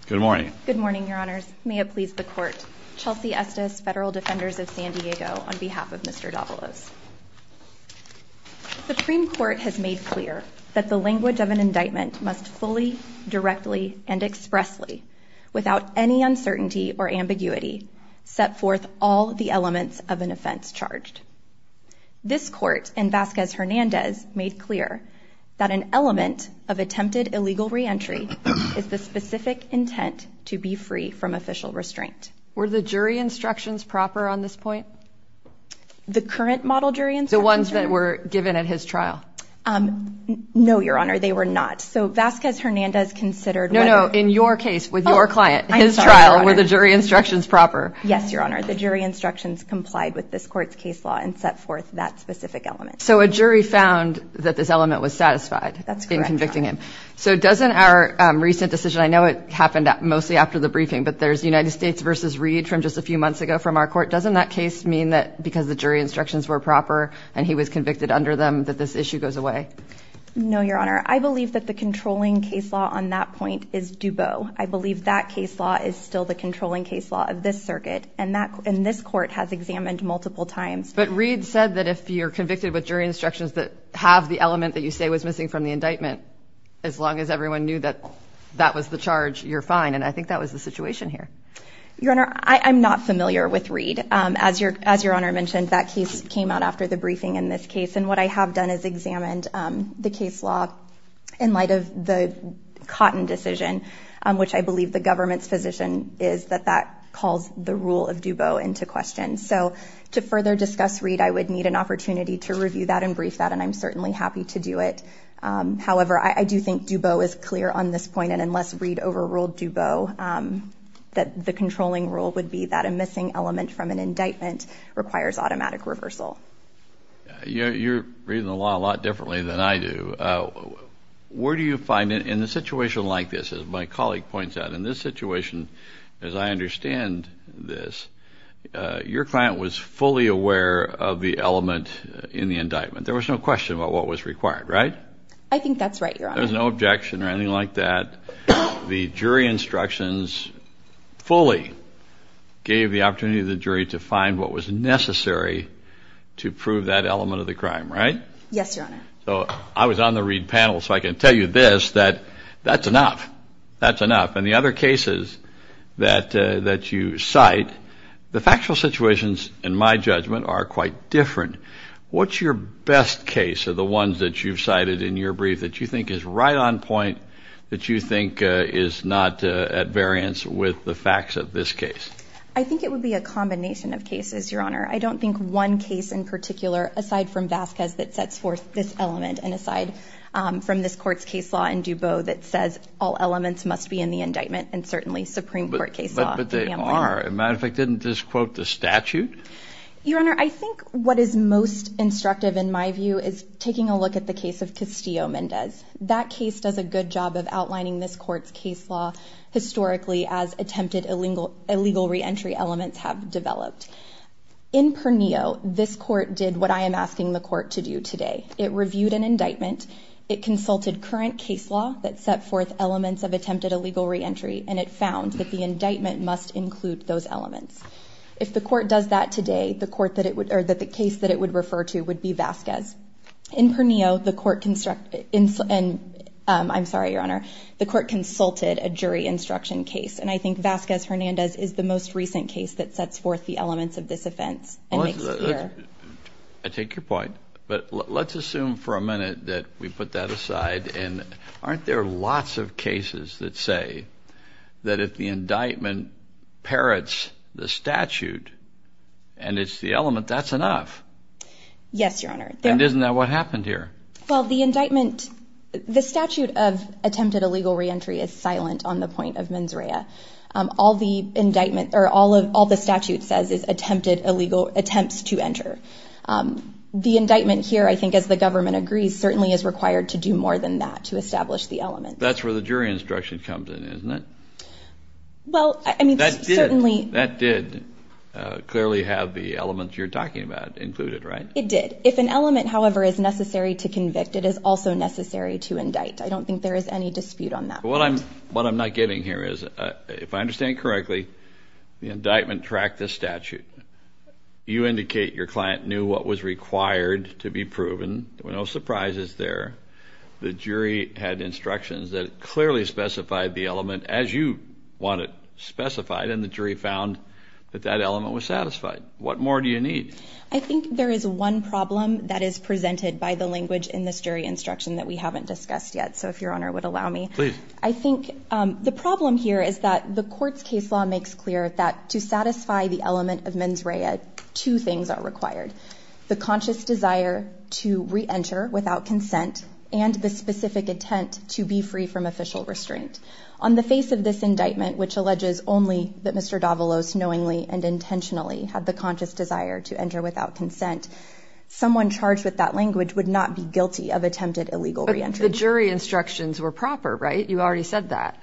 Supreme Court has made clear that the language of an indictment must fully, directly, and expressly, without any uncertainty or ambiguity, set forth all the elements of an offense charged. This Court, in Vasquez-Hernandez, made clear that an element of attempted illegal re-entry is the specific intent to be free from official restraint. Were the jury instructions proper on this point? The current model jury instructions? The ones that were given at his trial. No, Your Honor, they were not. So, Vasquez-Hernandez considered whether... No, no, in your case, with your client, his trial, were the jury instructions proper? Yes, Your Honor, the jury instructions complied with this Court's case law and set forth that specific element. So, a jury found that this element was satisfied in convicting him? That's correct, Your Honor. So, doesn't our recent decision, I know it happened mostly after the briefing, but there's United States v. Reed from just a few months ago from our court. Doesn't that case mean that because the jury instructions were proper and he was convicted under them, that this issue goes away? No, Your Honor, I believe that the controlling case law on that point is dubo. I believe that case law is still the controlling case law of this circuit, and this Court has examined multiple times. But Reed said that if you're convicted with jury instructions that have the element that you say was missing from the indictment, as long as everyone knew that that was the charge, you're fine, and I think that was the situation here. As Your Honor mentioned, that case came out after the briefing in this case, and what I have done is examined the case law in light of the Cotton decision, which I believe the government's position is that that calls the rule of dubo into question. So, to further discuss Reed, I would need an opportunity to review that and brief that, and I'm certainly happy to do it. However, I do think dubo is clear on this point, and unless Reed overruled dubo, the controlling rule would be that a missing element from an indictment requires automatic reversal. You're reading the law a lot differently than I do. Where do you find, in a situation like this, as my colleague points out, in this situation, as I understand this, your client was fully aware of the element in the indictment. There was no question about what was required, right? I think that's right, Your Honor. There was no objection or anything like that. The jury instructions fully gave the opportunity to the jury to find what was necessary to prove that element of the crime, right? Yes, Your Honor. So, I was on the Reed panel, so I can tell you this, that that's enough. That's enough. In the other cases that you cite, the factual situations, in my judgment, are quite different. What's your best case of the ones that you've cited in your brief that you think is right on point, that you think is not at variance with the facts of this case? I think it would be a combination of cases, Your Honor. I don't think one case in particular, aside from Vasquez, that sets forth this element, and aside from this Court's case law in dubo that says all elements must be in the indictment, and certainly Supreme Court case law. But they are. As a matter of fact, didn't this quote the statute? Your Honor, I think what is most instructive, in my view, is taking a look at the case of Castillo-Mendez. That case does a good job of outlining this Court's case law historically as attempted illegal reentry elements have developed. In Pernillo, this Court did what I am asking the Court to do today. It reviewed an indictment. It consulted current case law that set forth elements of attempted illegal reentry, and it found that the indictment must include those elements. If the Court does that today, the case that it would refer to would be Vasquez. In Pernillo, the Court consulted a jury instruction case, and I think Vasquez-Hernandez is the most recent case that sets forth the elements of this offense. I take your point, but let's assume for a minute that we put that aside. Aren't there lots of cases that say that if the indictment parrots the statute and it's the element, that's enough? Yes, Your Honor. And isn't that what happened here? Well, the statute of attempted illegal reentry is silent on the point of mens rea. All the statute says is attempted illegal attempts to enter. The indictment here, I think as the government agrees, certainly is required to do more than that to establish the element. That's where the jury instruction comes in, isn't it? Well, I mean, certainly. That did clearly have the elements you're talking about included, right? It did. If an element, however, is necessary to convict, it is also necessary to indict. I don't think there is any dispute on that. What I'm not getting here is, if I understand correctly, the indictment tracked the statute. You indicate your client knew what was required to be proven. No surprises there. The jury had instructions that clearly specified the element as you want it specified. And the jury found that that element was satisfied. What more do you need? I think there is one problem that is presented by the language in this jury instruction that we haven't discussed yet. So if Your Honor would allow me. Please. I think the problem here is that the court's case law makes clear that to satisfy the element of mens rea, two things are required. The conscious desire to reenter without consent and the specific intent to be free from official restraint. On the face of this indictment, which alleges only that Mr. Davalos knowingly and intentionally had the conscious desire to enter without consent, someone charged with that language would not be guilty of attempted illegal reentry. But the jury instructions were proper, right? You already said that.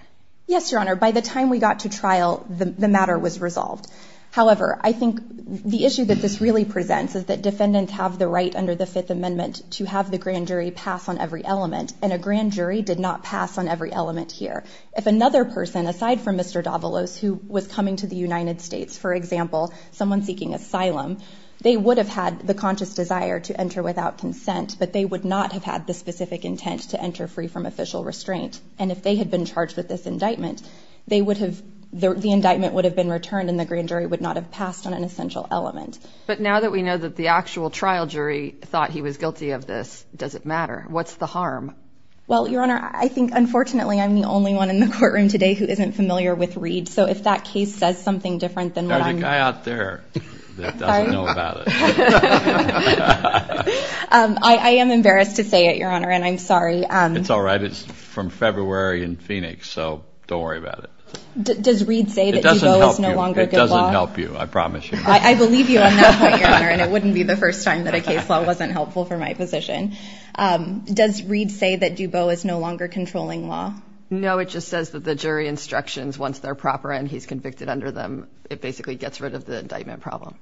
Yes, Your Honor. By the time we got to trial, the matter was resolved. However, I think the issue that this really presents is that defendants have the right under the Fifth Amendment to have the grand jury pass on every element. And a grand jury did not pass on every element here. If another person, aside from Mr. Davalos, who was coming to the United States, for example, someone seeking asylum, they would have had the conscious desire to enter without consent, but they would not have had the specific intent to enter free from official restraint. And if they had been charged with this indictment, they would have, the indictment would have been returned and the grand jury would not have passed on an essential element. But now that we know that the actual trial jury thought he was guilty of this, does it matter? What's the harm? Well, Your Honor, I think unfortunately I'm the only one in the courtroom today who isn't familiar with Reed. So if that case says something different than what I'm. There's a guy out there that doesn't know about it. I am embarrassed to say it, Your Honor, and I'm sorry. It's all right. It's from February in Phoenix. So don't worry about it. Does Reed say that Dubot is no longer good law? It doesn't help you. It doesn't help you. I promise you. I believe you on that point, Your Honor, and it wouldn't be the first time that a case law wasn't helpful for my position. Does Reed say that Dubot is no longer controlling law? No, it just says that the jury instructions, once they're proper and he's convicted under them, it basically gets rid of the indictment problem.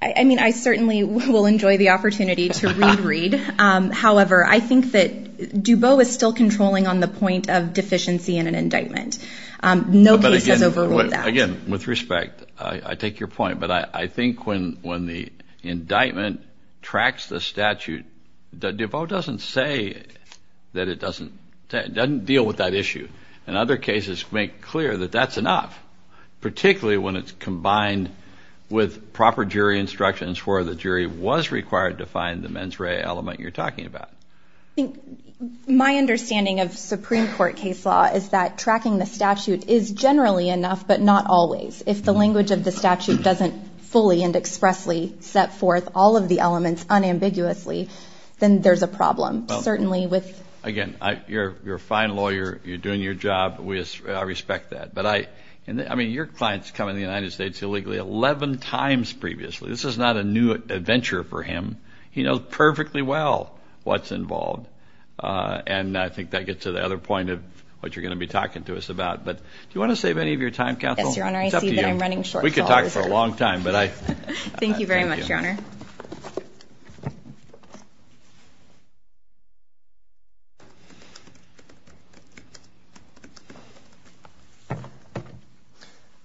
I mean, I certainly will enjoy the opportunity to read Reed. However, I think that Dubot is still controlling on the point of deficiency in an indictment. No case has overruled that. Again, with respect, I take your point. But I think when the indictment tracks the statute, Dubot doesn't say that it doesn't deal with that issue. And other cases make clear that that's enough, particularly when it's combined with proper jury instructions where the jury was required to find the mens rea element you're talking about. My understanding of Supreme Court case law is that tracking the statute is generally enough, but not always. If the language of the statute doesn't fully and expressly set forth all of the elements unambiguously, then there's a problem. Certainly with – Again, you're a fine lawyer. You're doing your job. I respect that. But I mean, your clients come into the United States illegally 11 times previously. This is not a new adventure for him. He knows perfectly well what's involved. And I think that gets to the other point of what you're going to be talking to us about. But do you want to save any of your time, Kathleen? Yes, Your Honor. I see that I'm running short. We could talk for a long time. Thank you very much, Your Honor.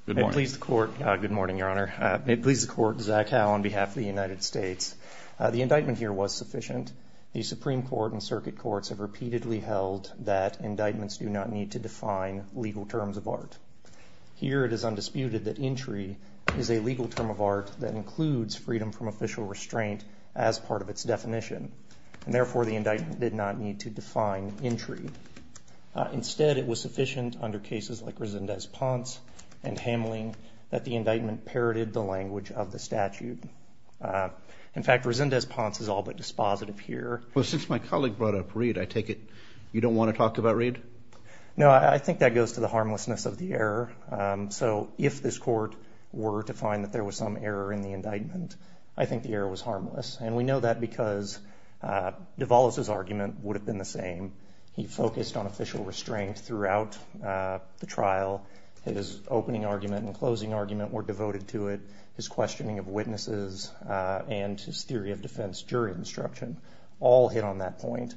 Good morning. May it please the Court. Good morning, Your Honor. May it please the Court. Zach Howe on behalf of the United States. The indictment here was sufficient. The Supreme Court and circuit courts have repeatedly held that indictments do not need to define legal terms of art. Here it is undisputed that entry is a legal term of art that includes freedom from official restraint as part of its definition. And therefore, the indictment did not need to define entry. Instead, it was sufficient under cases like Resendez-Ponce and Hamling that the indictment parroted the language of the statute. In fact, Resendez-Ponce is all but dispositive here. Well, since my colleague brought up Reid, I take it you don't want to talk about Reid? No, I think that goes to the harmlessness of the error. So if this court were to find that there was some error in the indictment, I think the error was harmless. And we know that because Duvalis's argument would have been the same. He focused on official restraint throughout the trial. His opening argument and closing argument were devoted to it. His questioning of witnesses and his theory of defense jury instruction all hit on that point.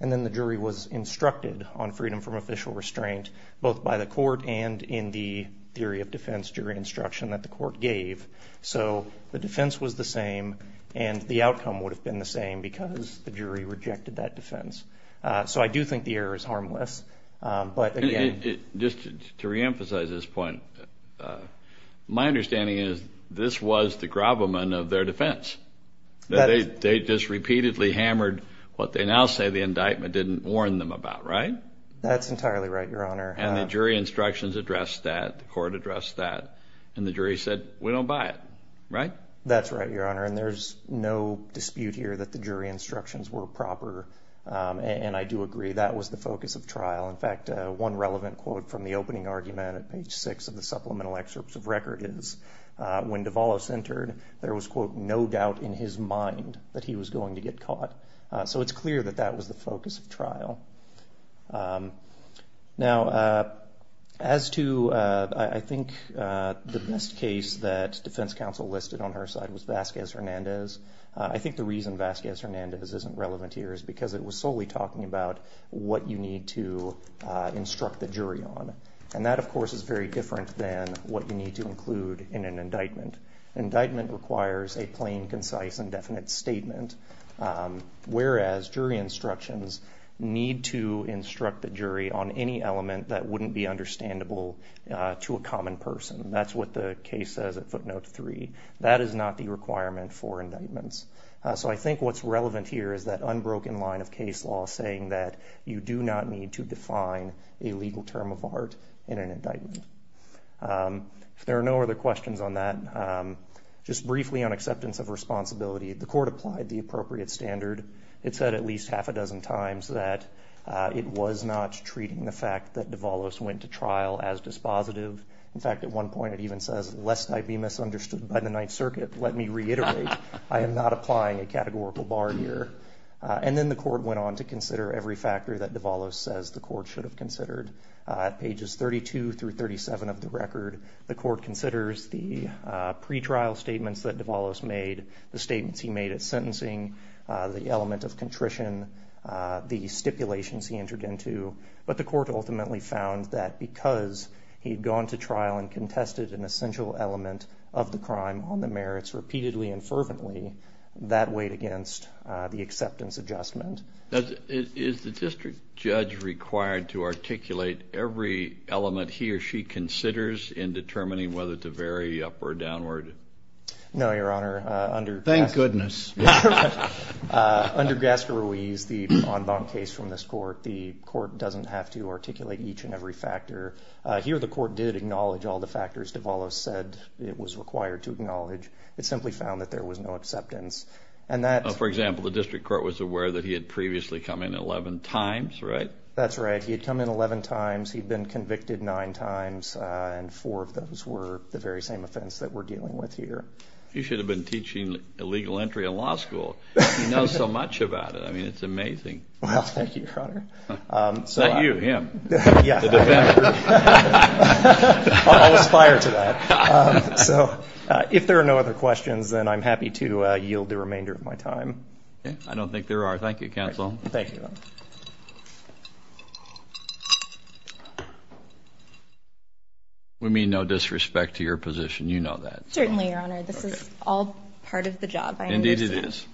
And then the jury was instructed on freedom from official restraint both by the court and in the theory of defense jury instruction that the court gave. So the defense was the same, and the outcome would have been the same because the jury rejected that defense. So I do think the error is harmless. Just to reemphasize this point, my understanding is this was the gravamen of their defense. They just repeatedly hammered what they now say the indictment didn't warn them about, right? That's entirely right, Your Honor. And the jury instructions addressed that, the court addressed that, and the jury said, we don't buy it, right? That's right, Your Honor, and there's no dispute here that the jury instructions were proper. And I do agree that was the focus of trial. In fact, one relevant quote from the opening argument at page six of the supplemental excerpts of record is, when Duvalis entered, there was, quote, no doubt in his mind that he was going to get caught. So it's clear that that was the focus of trial. Now, as to I think the best case that defense counsel listed on her side was Vasquez-Hernandez. I think the reason Vasquez-Hernandez isn't relevant here is because it was solely talking about what you need to instruct the jury on. And that, of course, is very different than what you need to include in an indictment. Indictment requires a plain, concise, and definite statement, whereas jury instructions need to instruct the jury on any element that wouldn't be understandable to a common person. That's what the case says at footnote three. That is not the requirement for indictments. So I think what's relevant here is that unbroken line of case law saying that you do not need to define a legal term of art in an indictment. If there are no other questions on that, just briefly on acceptance of responsibility. The court applied the appropriate standard. It said at least half a dozen times that it was not treating the fact that Duvalis went to trial as dispositive. In fact, at one point it even says, lest I be misunderstood by the Ninth Circuit, let me reiterate, I am not applying a categorical bar here. And then the court went on to consider every factor that Duvalis says the court should have considered. At pages 32 through 37 of the record, the court considers the pretrial statements that Duvalis made, the statements he made at sentencing, the element of contrition, the stipulations he entered into. But the court ultimately found that because he had gone to trial and contested an essential element of the crime on the merits repeatedly and fervently, that weighed against the acceptance adjustment. Is the district judge required to articulate every element he or she considers in determining whether to vary up or downward? No, Your Honor. Thank goodness. Under Gascarouille's, the en banc case from this court, the court doesn't have to articulate each and every factor. Here the court did acknowledge all the factors Duvalis said it was required to acknowledge. It simply found that there was no acceptance. For example, the district court was aware that he had previously come in 11 times, right? That's right. He had come in 11 times. He had been convicted nine times, and four of those were the very same offense that we're dealing with here. You should have been teaching illegal entry in law school. You know so much about it. I mean, it's amazing. Well, thank you, Your Honor. Not you, him. The defendant. I'll aspire to that. So if there are no other questions, then I'm happy to yield the remainder of my time. I don't think there are. Thank you, counsel. Thank you. We mean no disrespect to your position. You know that. Certainly, Your Honor. This is all part of the job. Indeed it is.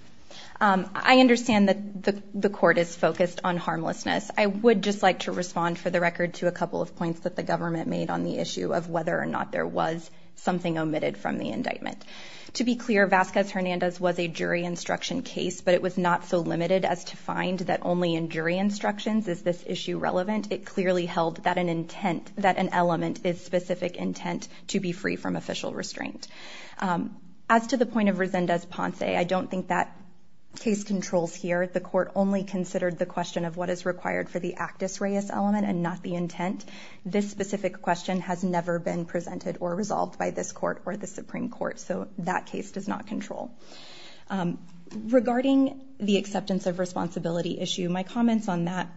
I understand that the court is focused on harmlessness. I would just like to respond for the record to a couple of points that the government made on the issue of whether or not there was something omitted from the indictment. To be clear, Vasquez-Hernandez was a jury instruction case, but it was not so limited as to find that only in jury instructions is this issue relevant. It clearly held that an element is specific intent to be free from official restraint. As to the point of Resendez-Ponce, I don't think that case controls here. The court only considered the question of what is required for the actus reus element and not the intent. This specific question has never been presented or resolved by this court or the Supreme Court. So that case does not control. Regarding the acceptance of responsibility issue, my comments on that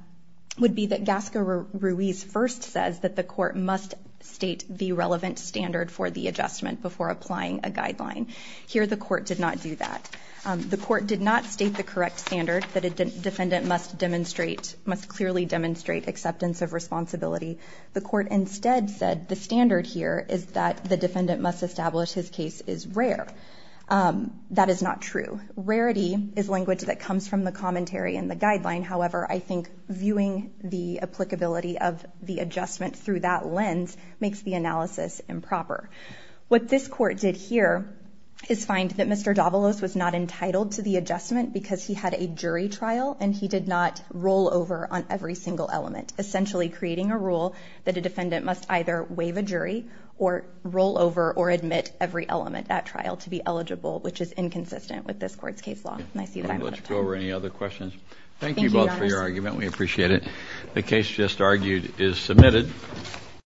would be that Gasca-Ruiz first says that the court must state the relevant standard for the adjustment before applying a guideline. Here the court did not do that. The court did not state the correct standard that a defendant must clearly demonstrate acceptance of responsibility. The court instead said the standard here is that the defendant must establish his case is rare. That is not true. Rarity is language that comes from the commentary and the guideline. However, I think viewing the applicability of the adjustment through that lens makes the analysis improper. What this court did here is find that Mr. Davalos was not entitled to the adjustment because he had a jury trial and he did not roll over on every single element, essentially creating a rule that a defendant must either waive a jury or roll over or admit every element at trial to be eligible, which is inconsistent with this court's case law. Let's go over any other questions. Thank you both for your argument. We appreciate it. The case just argued is submitted.